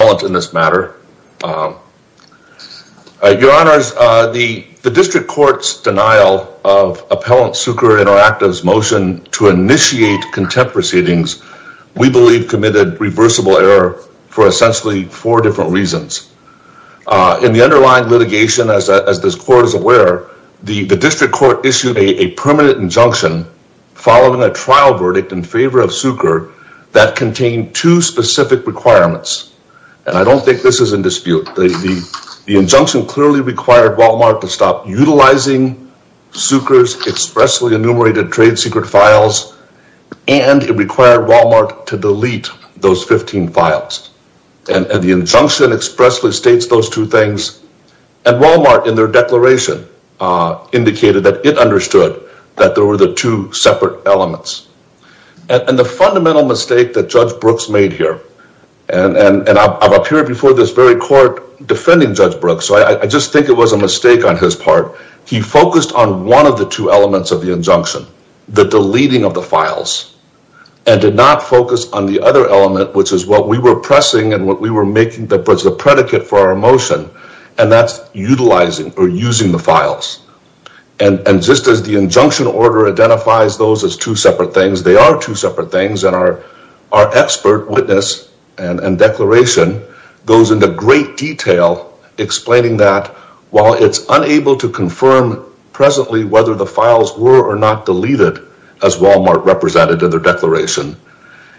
Your Honors, the District Court's denial of Appellant Cuker Interactive's motion to initiate contempt proceedings, we believe committed reversible error for essentially four different reasons. In the underlying litigation, as this Court is aware, the District Court issued a permanent injunction following a trial verdict in favor of Cuker that contained two specific requirements. And I don't think this is in dispute. The injunction clearly required Wal-Mart to stop utilizing Cuker's expressly enumerated trade secret files and it required Wal-Mart to delete those 15 files. And the injunction expressly states those two things and Wal-Mart in their declaration indicated that it understood that there were the two separate elements. And the fundamental mistake that Judge Brooks made here, and I'm up here before this very Court defending Judge Brooks, so I just think it was a mistake on his part. He focused on one of the two elements of the injunction, the deleting of the files, and did not focus on the other element, which is what we were pressing and what we were making that was the predicate for our motion, and that's utilizing or using the files. And just as the injunction order identifies those as two separate things, they are two separate things, and our expert witness and declaration goes into great detail explaining that while it's unable to confirm presently whether the files were or not deleted as Wal-Mart represented in their declaration,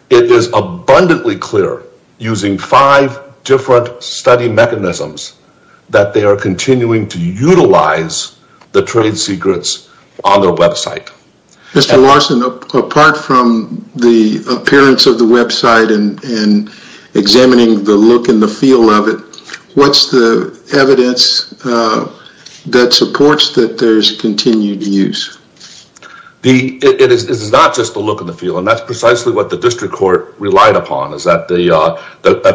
it is abundantly clear using five different study mechanisms that they are continuing to utilize the trade secrets on their website. Mr. Larson, apart from the appearance of the website and examining the look and the feel of it, what's the evidence that supports that there's continued use? It is not just the look and the feel, and that's precisely what the District Court relied upon, is that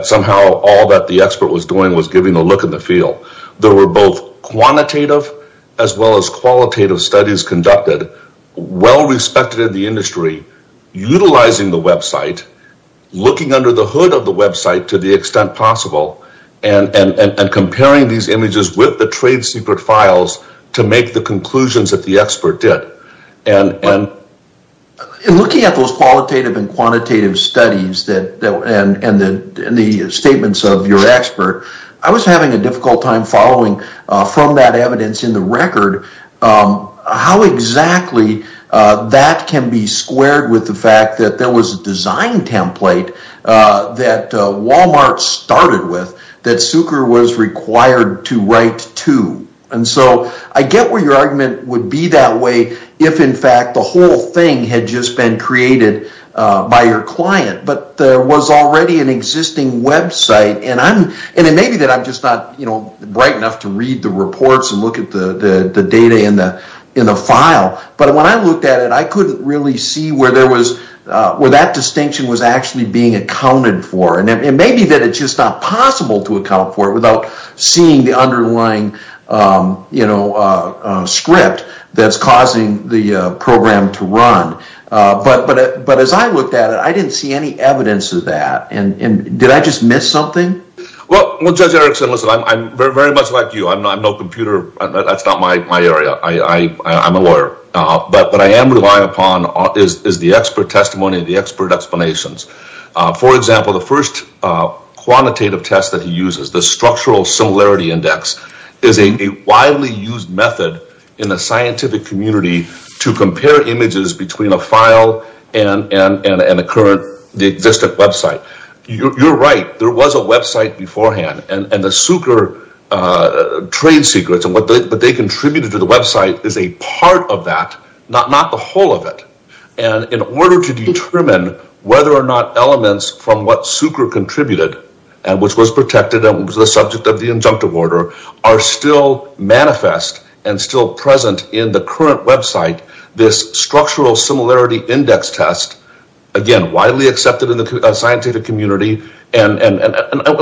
somehow all that the expert was doing was giving a look and the feel. There were both quantitative as well as qualitative studies conducted, well respected in the industry, utilizing the website, looking under the hood of the website to the extent possible, and comparing these images with the trade secret files to make the conclusions that the expert did. In looking at those qualitative and quantitative studies and the statements of your expert, I was having a difficult time following from that evidence in the record how exactly that can be squared with the fact that there was a design template that Wal-Mart started with that Zucker was required to write to. I get where your argument would be that way if, in fact, the whole thing had just been created by your client, but there was already an existing website. It may be that I'm just not bright enough to read the reports and look at the data in the file, but when I looked at it, I couldn't really see where that distinction was actually being accounted for. It may be that it's just not possible to account for it without seeing the underlying script that's causing the program to run. But as I looked at it, I didn't see any evidence of that. Did I just miss something? Well, Judge Erickson, listen, I'm very much like you. I'm no computer. That's not my area. I'm a lawyer. But what I am relying upon is the expert testimony and the expert explanations. For example, the first quantitative test that he uses, the Structural Similarity Index, is a widely used method in the scientific community to compare images between a file and an existing website. You're right. There was a website beforehand. And the Zucker trade secrets and what they contributed to the website is a part of that, not the whole of it. And in order to determine whether or not elements from what Zucker contributed, which was protected and was the subject of the injunctive order, are still manifest and still present in the current website. This Structural Similarity Index test, again, widely accepted in the scientific community. And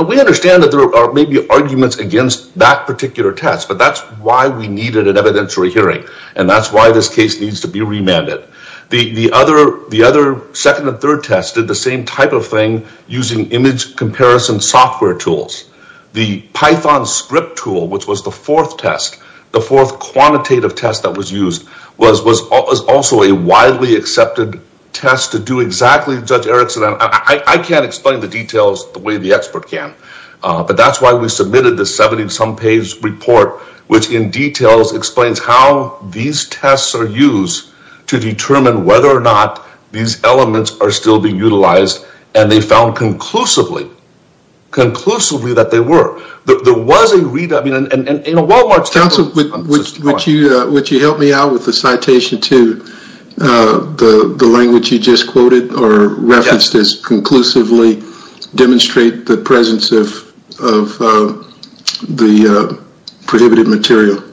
we understand that there may be arguments against that particular test, but that's why we needed an evidentiary hearing. And that's why this case needs to be remanded. The other second and third tests did the same type of thing using image comparison software tools. The Python script tool, which was the fourth test, the fourth quantitative test that was used, was also a widely accepted test to do exactly, Judge Erickson, I can't explain the details the way the expert can. But that's why we submitted the 70-some page report, which in details explains how these tests are used to determine whether or not these elements are still being utilized. And they found conclusively, conclusively that they were. Counsel, would you help me out with the citation to the language you just quoted or referenced as conclusively demonstrate the presence of the prohibited material?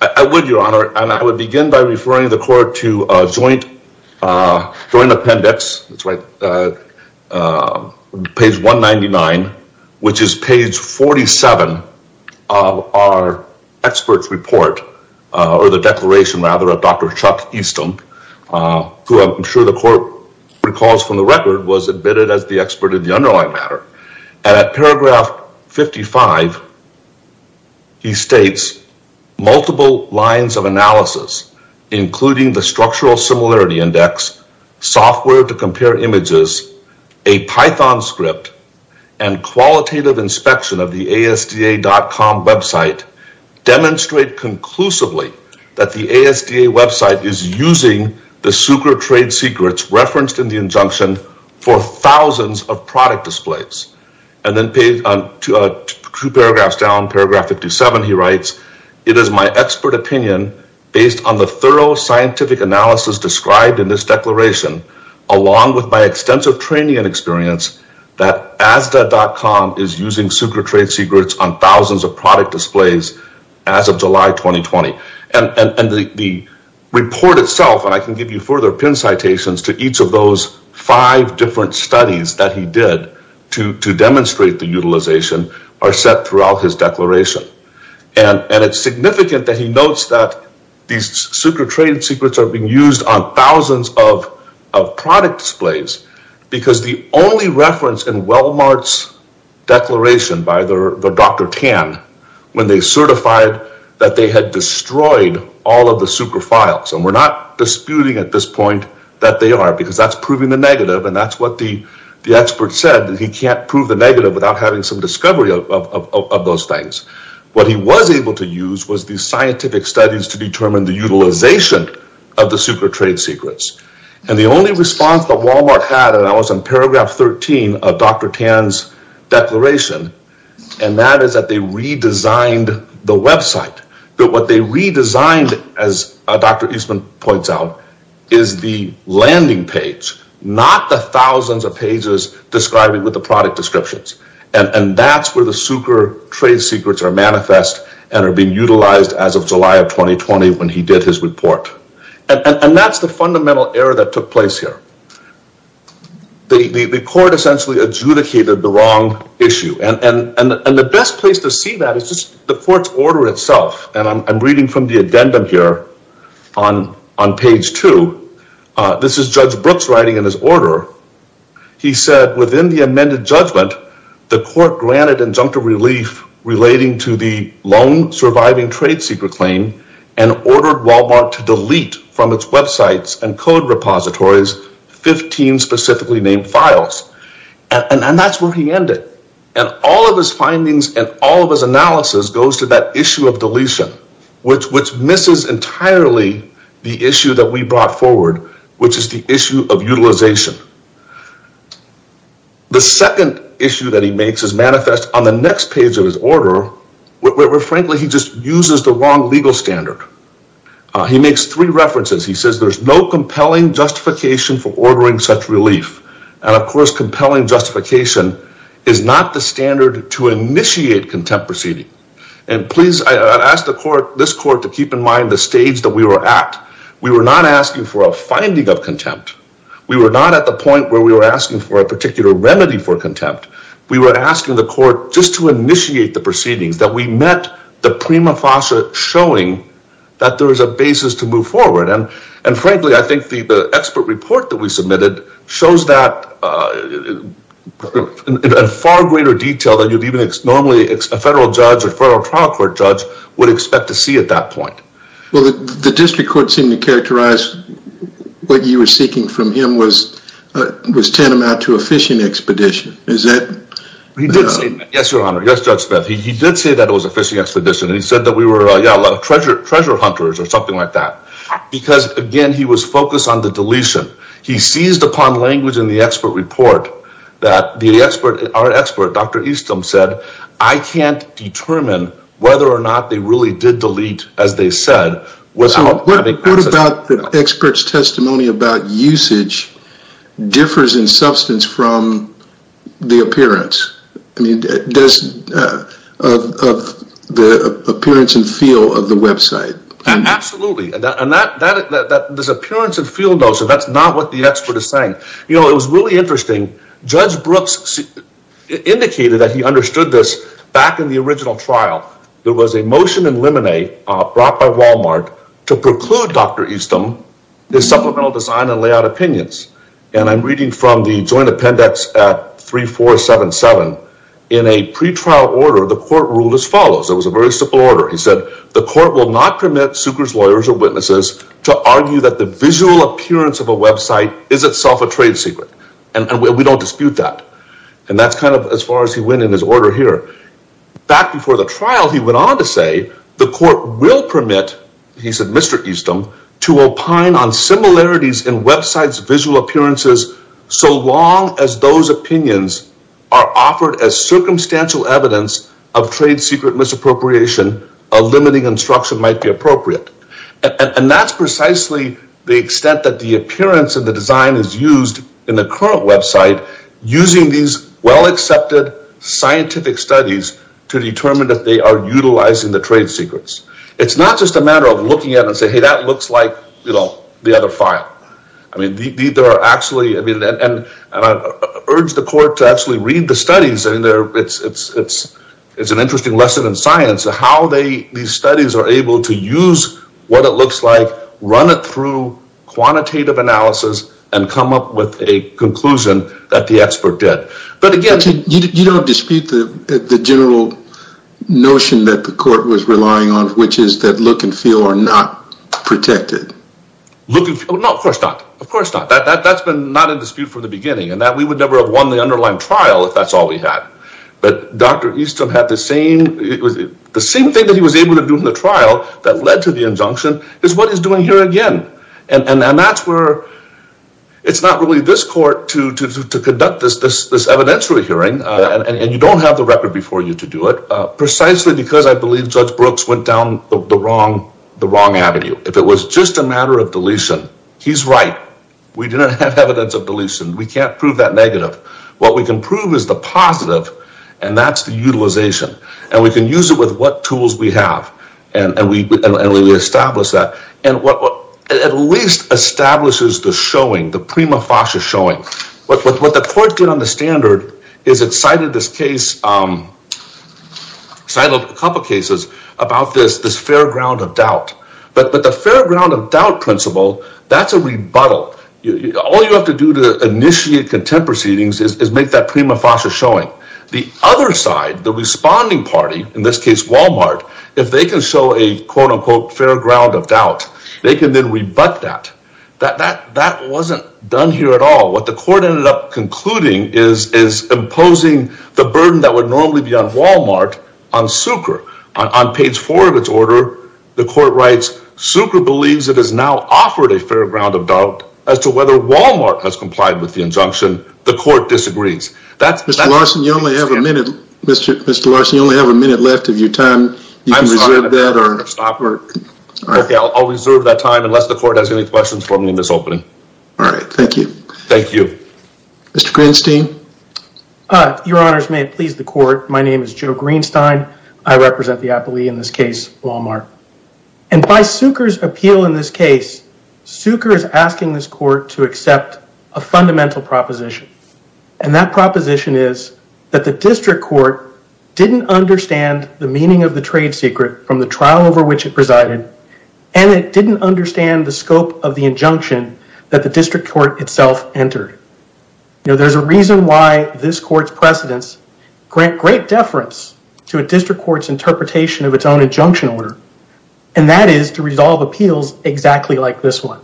I would, Your Honor, and I would begin by referring the court to a joint appendix, page 199, which is page 47 of our expert's report or the declaration rather of Dr. Chuck Easton, who I'm sure the court recalls from the record was admitted as the expert in the underlying matter. And at paragraph 55, he states multiple lines of analysis, including the structural similarity index, software to compare images, a Python script, and qualitative inspection of the ASDA.com website demonstrate conclusively that the ASDA website is using the super trade secrets referenced in the injunction for thousands of product displays. And then two paragraphs down, paragraph 57, he writes, it is my expert opinion based on the thorough scientific analysis described in this declaration, along with my extensive training and experience that ASDA.com is using super trade secrets on thousands of product displays as of July 2020. And the report itself, and I can give you further pin citations to each of those five different studies that he did to demonstrate the utilization are set throughout his declaration. And it's significant that he notes that these super trade secrets are being used on thousands of product displays, because the only reference in Wellmart's declaration by their Dr. Tan, when they certified that they had destroyed all of the super files, and we're not disputing at this point that they are, because that's proving the negative. And that's what the expert said, that he can't prove the negative without having some discovery of those things. What he was able to use was the scientific studies to determine the utilization of the super trade secrets. And the only response that Wellmart had, and that was in paragraph 13 of Dr. Tan's declaration, and that is that they redesigned the website. But what they redesigned, as Dr. Eastman points out, is the landing page, not the thousands of pages describing with the product descriptions. And that's where the super trade secrets are manifest and are being utilized as of July of 2020, when he did his report. And that's the fundamental error that took place here. The court essentially adjudicated the wrong issue. And the best place to see that is just the court's order itself. And I'm reading from the addendum here on page two. This is Judge Brooks writing in his order. He said, within the amended judgment, the court granted injunctive relief relating to the lone surviving trade secret claim and ordered Wellmart to delete from its websites and code repositories 15 specifically named files. And that's where he ended. And all of his findings and all of his analysis goes to that issue of deletion, which misses entirely the issue that we brought forward, which is the issue of utilization. The second issue that he makes is manifest on the next page of his order, where, frankly, he just uses the wrong legal standard. He makes three references. He says there's no compelling justification for ordering such relief. And, of course, compelling justification is not the standard to initiate contempt proceeding. And please, I ask this court to keep in mind the stage that we were at. We were not asking for a finding of contempt. We were not at the point where we were asking for a particular remedy for contempt. We were asking the court just to initiate the proceedings that we met the prima facie showing that there is a basis to move forward. And, frankly, I think the expert report that we submitted shows that in far greater detail than you'd even normally a federal judge or federal trial court judge would expect to see at that point. Well, the district court seemed to characterize what you were seeking from him was tantamount to a fishing expedition. Is that? Yes, Your Honor. Yes, Judge Smith. He did say that it was a fishing expedition. And he said that we were, yeah, a lot of treasure hunters or something like that. Because, again, he was focused on the deletion. He seized upon language in the expert report that our expert, Dr. Easton, said, I can't determine whether or not they really did delete, as they said. So what about the expert's testimony about usage differs in substance from the appearance? I mean, of the appearance and feel of the website. Absolutely. And this appearance and feel, though, so that's not what the expert is saying. You know, it was really interesting. Judge Brooks indicated that he understood this back in the original trial. There was a motion in limine brought by Walmart to preclude Dr. Easton, the supplemental design and layout opinions. And I'm reading from the joint appendix at 3477. In a pre-trial order, the court ruled as follows. It was a very simple order. He said, the court will not permit Sukor's lawyers or witnesses to argue that the visual appearance of a website is itself a trade secret. And we don't dispute that. And that's kind of as far as he went in his order here. Back before the trial, he went on to say, the court will permit, he said, Mr. Easton, to opine on similarities in websites visual appearances. So long as those opinions are offered as circumstantial evidence of trade secret misappropriation, a limiting instruction might be appropriate. And that's precisely the extent that the appearance of the design is used in the current website using these well-accepted scientific studies to determine that they are utilizing the trade secrets. It's not just a matter of looking at it and saying, hey, that looks like, you know, the other file. I mean, there are actually, I mean, and I urge the court to actually read the studies. It's an interesting lesson in science, how these studies are able to use what it looks like, run it through quantitative analysis, and come up with a conclusion that the expert did. But again, you don't dispute the general notion that the court was relying on, which is that look and feel are not protected. No, of course not. Of course not. That's been not a dispute from the beginning, and that we would never have won the underlying trial if that's all we had. But Dr. Easton had the same thing that he was able to do in the trial that led to the injunction is what he's doing here again. And that's where it's not really this court to conduct this evidentiary hearing, and you don't have the record before you to do it, precisely because I believe Judge Brooks went down the wrong avenue. If it was just a matter of deletion, he's right. We didn't have evidence of deletion. We can't prove that negative. What we can prove is the positive, and that's the utilization. And we can use it with what tools we have, and we establish that. And what at least establishes the showing, the prima facie showing. What the court did on the standard is it cited a couple cases about this fair ground of doubt. But the fair ground of doubt principle, that's a rebuttal. All you have to do to initiate contempt proceedings is make that prima facie showing. The other side, the responding party, in this case Walmart, if they can show a quote unquote fair ground of doubt, they can then rebut that. That wasn't done here at all. What the court ended up concluding is imposing the burden that would normally be on Walmart on Sucre. On page four of its order, the court writes, Sucre believes it has now offered a fair ground of doubt as to whether Walmart has complied with the injunction. The court disagrees. Mr. Larson, you only have a minute. Mr. Larson, you only have a minute left of your time. I'm sorry. I'll reserve that time unless the court has any questions for me in this opening. All right. Thank you. Thank you. Mr. Greenstein. Your honors, may it please the court. My name is Joe Greenstein. I represent the appellee in this case, Walmart. And by Sucre's appeal in this case, Sucre is asking this court to accept a fundamental proposition. And that proposition is that the district court didn't understand the meaning of the trade secret from the trial over which it presided. And it didn't understand the scope of the injunction that the district court itself entered. There's a reason why this court's precedents grant great deference to a district court's interpretation of its own injunction order. And that is to resolve appeals exactly like this one.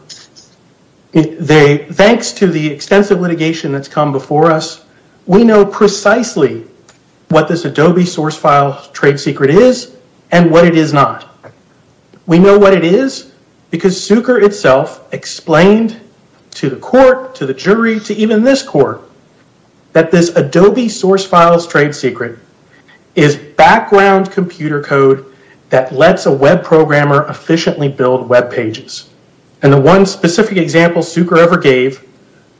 Thanks to the extensive litigation that's come before us, we know precisely what this Adobe source file trade secret is and what it is not. We know what it is because Sucre itself explained to the court, to the jury, to even this court, that this Adobe source file's trade secret is background computer code that lets a web programmer efficiently build web pages. And the one specific example Sucre ever gave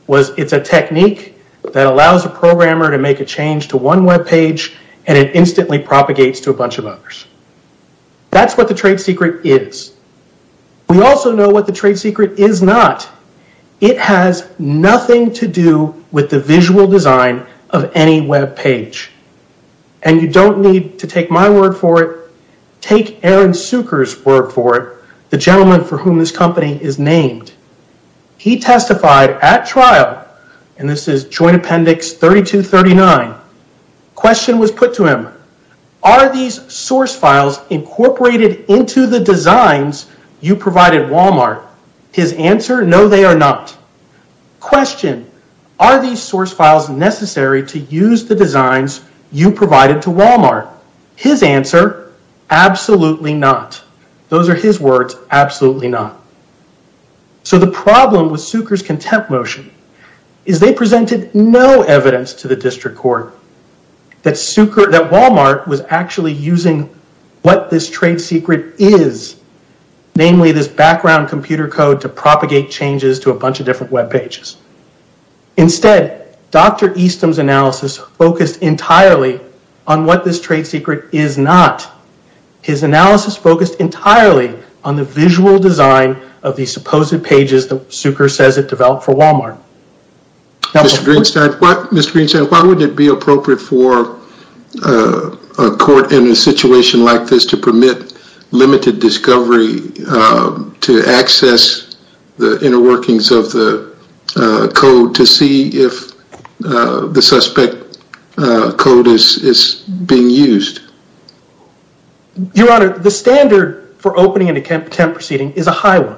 was it's a technique that allows a programmer to make a change to one web page and it instantly propagates to a bunch of others. That's what the trade secret is. We also know what the trade secret is not. It has nothing to do with the visual design of any web page. And you don't need to take my word for it. Take Aaron Sucre's word for it, the gentleman for whom this company is named. He testified at trial, and this is Joint Appendix 3239. Question was put to him. Are these source files incorporated into the designs you provided Walmart? His answer, no, they are not. Question, are these source files necessary to use the designs you provided to Walmart? His answer, absolutely not. Those are his words, absolutely not. So the problem with Sucre's contempt motion is they presented no evidence to the district court that Walmart was actually using what this trade secret is, namely this background computer code to propagate changes to a bunch of different web pages. Instead, Dr. Easton's analysis focused entirely on what this trade secret is not. His analysis focused entirely on the visual design of these supposed pages that Sucre says it developed for Walmart. Mr. Greenstein, why would it be appropriate for a court in a situation like this to permit limited discovery to access the inner workings of the code to see if the suspect code is being used? Your Honor, the standard for opening an attempt proceeding is a high one.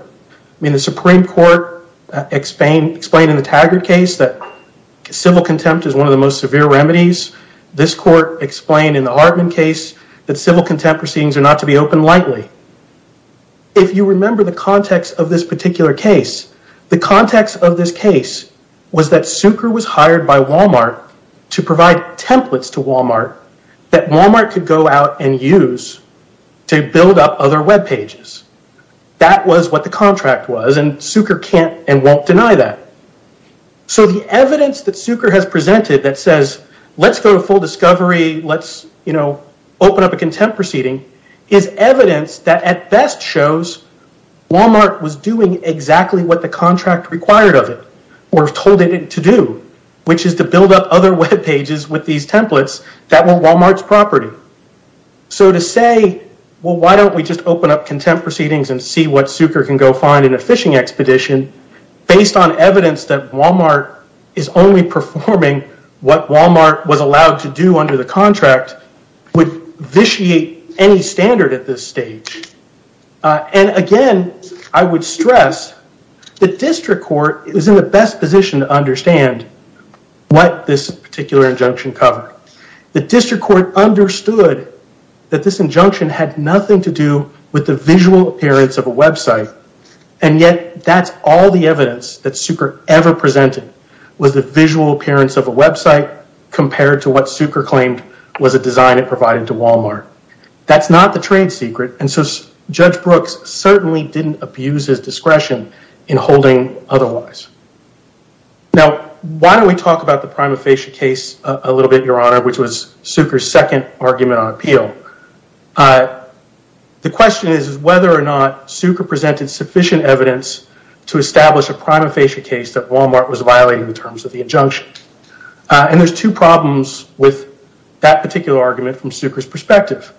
The Supreme Court explained in the Taggart case that civil contempt is one of the most severe remedies. This court explained in the Hartman case that civil contempt proceedings are not to be opened lightly. If you remember the context of this particular case, the context of this case was that Sucre was hired by Walmart to provide templates to Walmart that Walmart could go out and use to build up other web pages. That was what the contract was and Sucre can't and won't deny that. The evidence that Sucre has presented that says, let's go to full discovery, let's open up a contempt proceeding, is evidence that at best shows Walmart was doing exactly what the contract required of it or told it to do, which is to build up other web pages with these templates that were Walmart's property. To say, well, why don't we just open up contempt proceedings and see what Sucre can go find in a phishing expedition based on evidence that Walmart is only performing what Walmart was allowed to do under the contract would vitiate any standard at this stage. And again, I would stress the district court is in the best position to understand what this particular injunction covered. The district court understood that this injunction had nothing to do with the visual appearance of a website and yet that's all the evidence that Sucre ever presented was the visual appearance of a website compared to what Sucre claimed was a design it provided to Walmart. That's not the trade secret and so Judge Brooks certainly didn't abuse his discretion in holding otherwise. Now, why don't we talk about the prima facie case a little bit, Your Honor, which was Sucre's second argument on appeal. The question is whether or not Sucre presented sufficient evidence to establish a prima facie case that Walmart was violating the terms of the injunction. And there's two problems with that particular argument from Sucre's perspective.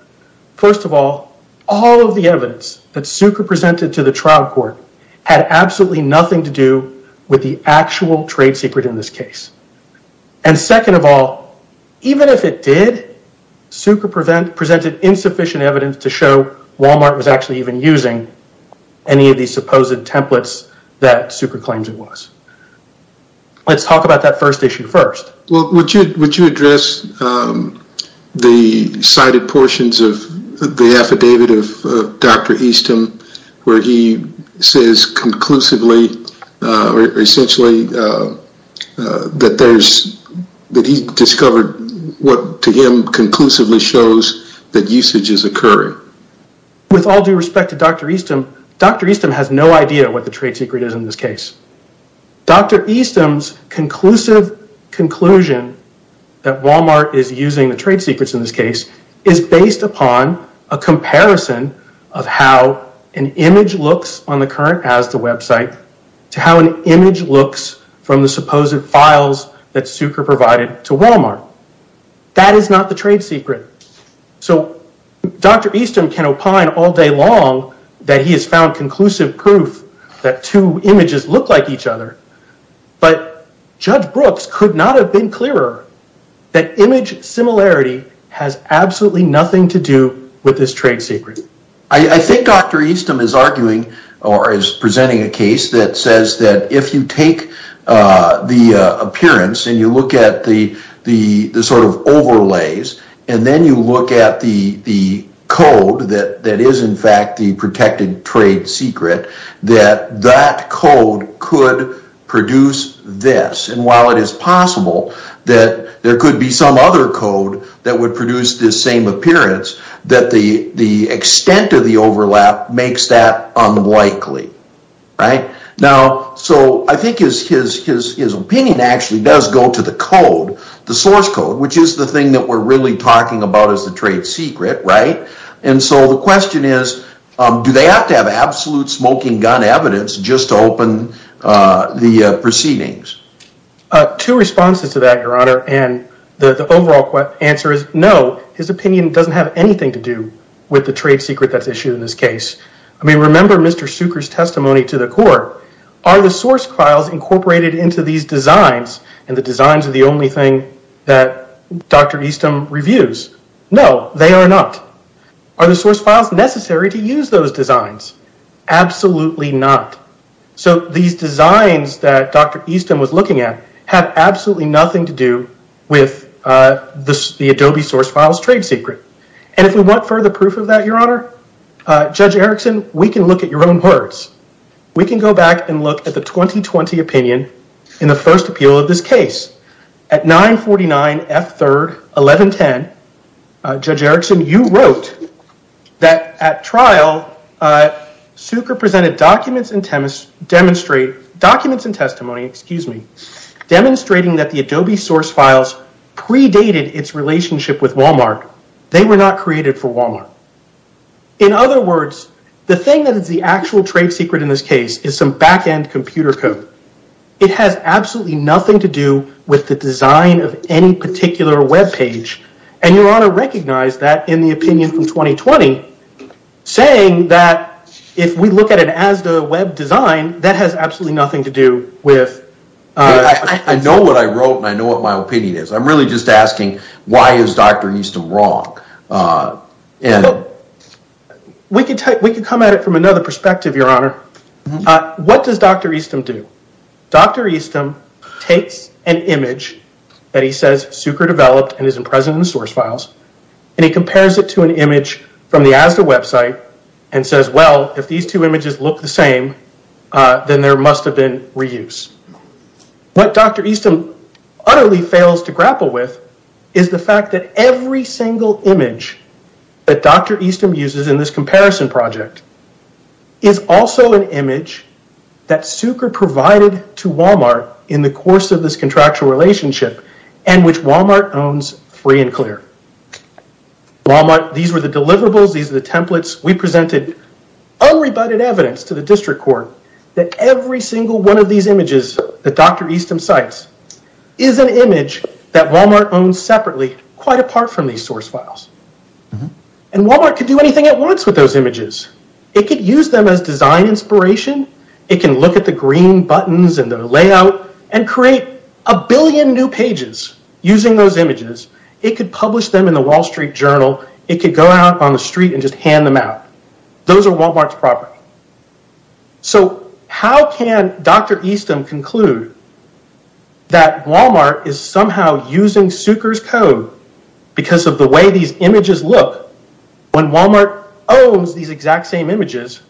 First of all, all of the evidence that Sucre presented to the trial court had absolutely nothing to do with the actual trade secret in this case. And second of all, even if it did, Sucre presented insufficient evidence to show Walmart was actually even using any of these supposed templates that Sucre claims it was. Let's talk about that first issue first. Well, would you address the cited portions of the affidavit of Dr. Easton where he says conclusively or essentially that he discovered what to him conclusively shows that usage is occurring. With all due respect to Dr. Easton, Dr. Easton has no idea what the trade secret is in this case. Dr. Easton's conclusive conclusion that Walmart is using the trade secrets in this case is based upon a comparison of how an image looks on the current Asda website to how an image looks from the supposed files that Sucre provided to Walmart. That is not the trade secret. So Dr. Easton can opine all day long that he has found conclusive proof that two images look like each other, but Judge Brooks could not have been clearer that image similarity has absolutely nothing to do with this trade secret. I think Dr. Easton is arguing or is presenting a case that says that if you take the appearance and you look at the sort of overlays and then you look at the code that is in fact the protected trade secret that that code could produce this. And while it is possible that there could be some other code that would produce this same appearance that the extent of the overlap makes that unlikely. So I think his opinion actually does go to the code, the source code, which is the thing that we're really talking about as the trade secret. And so the question is, do they have to have absolute smoking gun evidence just to open the proceedings? Two responses to that, Your Honor, and the overall answer is no. His opinion doesn't have anything to do with the trade secret that's issued in this case. I mean, remember Mr. Sucre's testimony to the court. Are the source files incorporated into these designs and the designs are the only thing that Dr. Easton reviews? No, they are not. Are the source files necessary to use those designs? Absolutely not. So these designs that Dr. Easton was looking at have absolutely nothing to do with the Adobe source files trade secret. And if we want further proof of that, Your Honor, Judge Erickson, we can look at your own words. We can go back and look at the 2020 opinion in the first appeal of this case. At 949 F. 3rd, 1110, Judge Erickson, you wrote that at trial, Sucre presented documents and testimony demonstrating that the Adobe source files predated its relationship with Walmart. They were not created for Walmart. In other words, the thing that is the actual trade secret in this case is some back-end computer code. It has absolutely nothing to do with the design of any particular web page. And Your Honor recognized that in the opinion from 2020, saying that if we look at it as the web design, that has absolutely nothing to do with... I know what I wrote and I know what my opinion is. I'm really just asking, why is Dr. Easton wrong? We can come at it from another perspective, Your Honor. What does Dr. Easton do? Dr. Easton takes an image that he says Sucre developed and is present in the source files. And he compares it to an image from the ASDA website and says, well, if these two images look the same, then there must have been reuse. What Dr. Easton utterly fails to grapple with is the fact that every single image that Dr. Easton uses in this comparison project is also an image that Sucre provided to Walmart in the course of this contractual relationship and which Walmart owns free and clear. Walmart, these were the deliverables, these are the templates. We presented unrebutted evidence to the district court that every single one of these images that Dr. Easton cites is an image that Walmart owns separately, quite apart from these source files. And Walmart could do anything it wants with those images. It could use them as design inspiration. It can look at the green buttons and the layout and create a billion new pages using those images. It could publish them in the Wall Street Journal. It could go out on the street and just hand them out. Those are Walmart's property. So how can Dr. Easton conclude that Walmart is somehow using Sucre's code because of the way these images look when Walmart owns these exact same images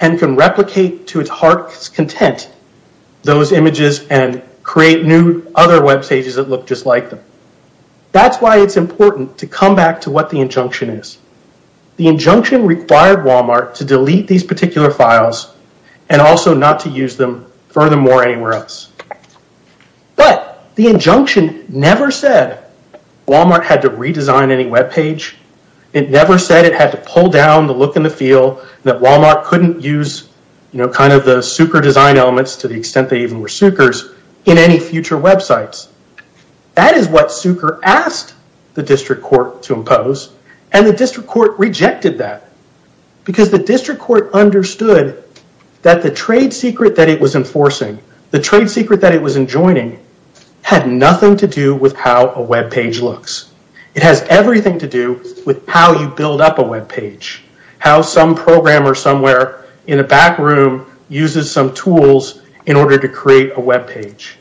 and can replicate to its heart's content those images and create new other web pages that look just like them? That's why it's important to come back to what the injunction is. The injunction required Walmart to delete these particular files and also not to use them furthermore anywhere else. But the injunction never said Walmart had to redesign any web page. It never said it had to pull down the look and the feel, that Walmart couldn't use the Sucre design elements to the extent they even were Sucre's in any future websites. That is what Sucre asked the district court to impose and the district court rejected that because the district court understood that the trade secret that it was enforcing, the trade secret that it was enjoining, had nothing to do with how a web page looks. It has everything to do with how you build up a web page, how some programmer somewhere in a back room uses some tools in order to create a web page.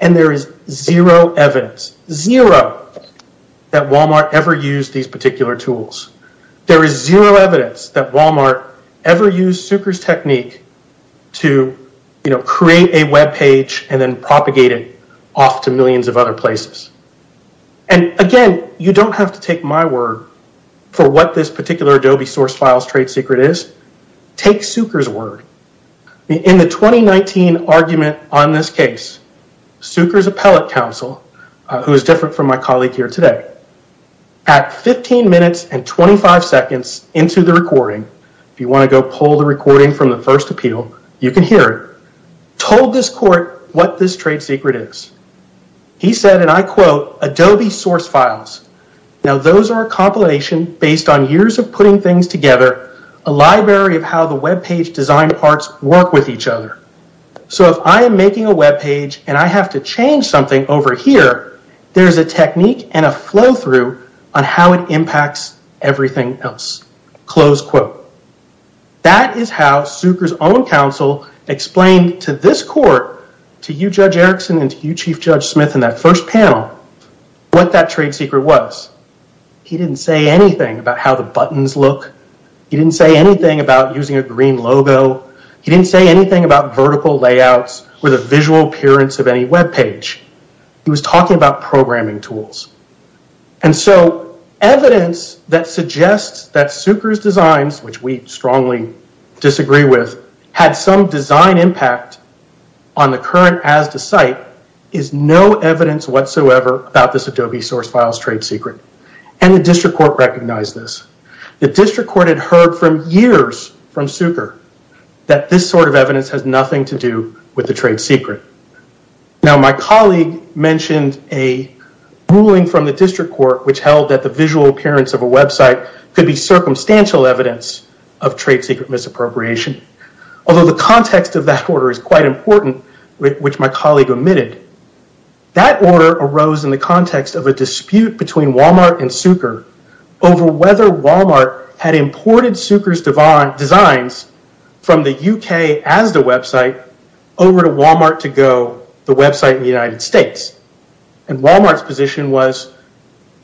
And there is zero evidence, zero, that Walmart ever used these particular tools. There is zero evidence that Walmart ever used Sucre's technique to, you know, create a web page and then propagate it off to millions of other places. And again, you don't have to take my word for what this particular Adobe source files trade secret is. Take Sucre's word. In the 2019 argument on this case, Sucre's appellate counsel, who is different from my colleague here today, at 15 minutes and 25 seconds into the recording, if you want to go pull the recording from the first appeal, you can hear it, told this court what this trade secret is. He said, and I quote, Adobe source files. Now those are a compilation based on years of putting things together, a library of how the web page design parts work with each other. So if I am making a web page and I have to change something over here, there's a technique and a flow through on how it impacts everything else. Close quote. That is how Sucre's own counsel explained to this court, to you Judge Erickson and to you Chief Judge Smith in that first panel, what that trade secret was. He didn't say anything about how the buttons look. He didn't say anything about using a green logo. He didn't say anything about vertical layouts or the visual appearance of any web page. He was talking about programming tools. And so evidence that suggests that Sucre's designs, which we strongly disagree with, had some design impact on the current ASDA site, is no evidence whatsoever about this Adobe source file's trade secret. And the district court recognized this. The district court had heard for years from Sucre that this sort of evidence has nothing to do with the trade secret. Now my colleague mentioned a ruling from the district court which held that the visual appearance of a website could be circumstantial evidence of trade secret misappropriation. Although the context of that order is quite important, which my colleague omitted, that order arose in the context of a dispute between Walmart and Sucre over whether Walmart had imported Sucre's designs from the UK ASDA website over to Walmart2go, the website in the United States. And Walmart's position was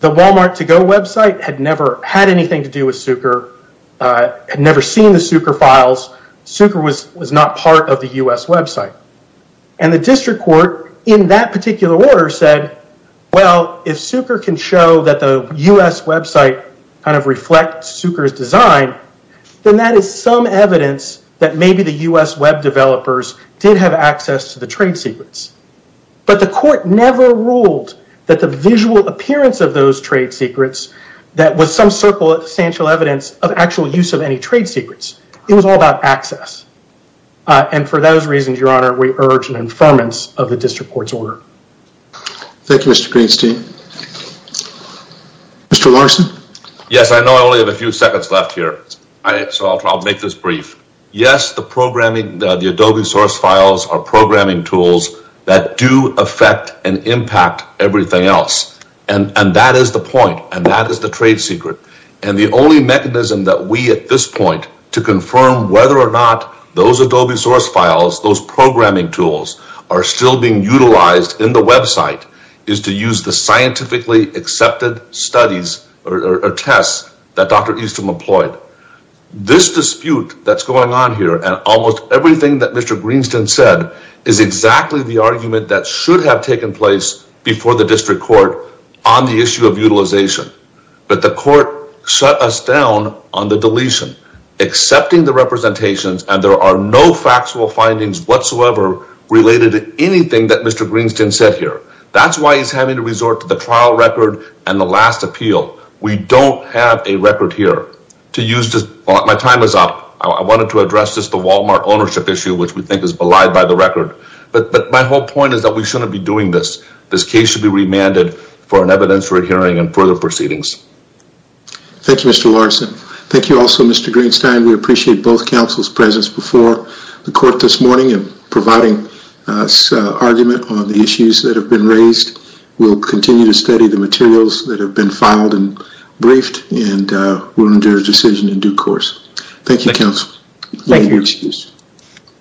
the Walmart2go website had never had anything to do with Sucre, had never seen the Sucre files. Sucre was not part of the U.S. website. And the district court, in that particular order, said, well, if Sucre can show that the U.S. website kind of reflects Sucre's design, then that is some evidence that maybe the U.S. web developers did have access to the trade secrets. But the court never ruled that the visual appearance of those trade secrets that was some circumstantial evidence of actual use of any trade secrets. It was all about access. And for those reasons, Your Honor, we urge an informants of the district court's order. Thank you, Mr. Greenstein. Mr. Larson? Yes, I know I only have a few seconds left here, so I'll make this brief. Yes, the programming, the Adobe source files are programming tools that do affect and impact everything else. And that is the point, and that is the trade secret. And the only mechanism that we, at this point, to confirm whether or not those Adobe source files, those programming tools, are still being utilized in the website, is to use the scientifically accepted studies or tests that Dr. Easton employed. This dispute that's going on here, and almost everything that Mr. Greenstein said, is exactly the argument that should have taken place before the district court on the issue of utilization. But the court shut us down on the deletion, accepting the representations, and there are no factual findings whatsoever related to anything that Mr. Greenstein said here. That's why he's having to resort to the trial record and the last appeal. We don't have a record here. My time is up. I wanted to address just the Walmart ownership issue, which we think is belied by the record. But my whole point is that we shouldn't be doing this. This case should be remanded for an evidence re-hearing and further proceedings. Thank you, Mr. Larson. Thank you also, Mr. Greenstein. We appreciate both counsel's presence before the court this morning in providing this argument on the issues that have been raised. We'll continue to study the materials that have been filed and briefed, and we'll endure a decision in due course. Thank you, counsel. Thank you.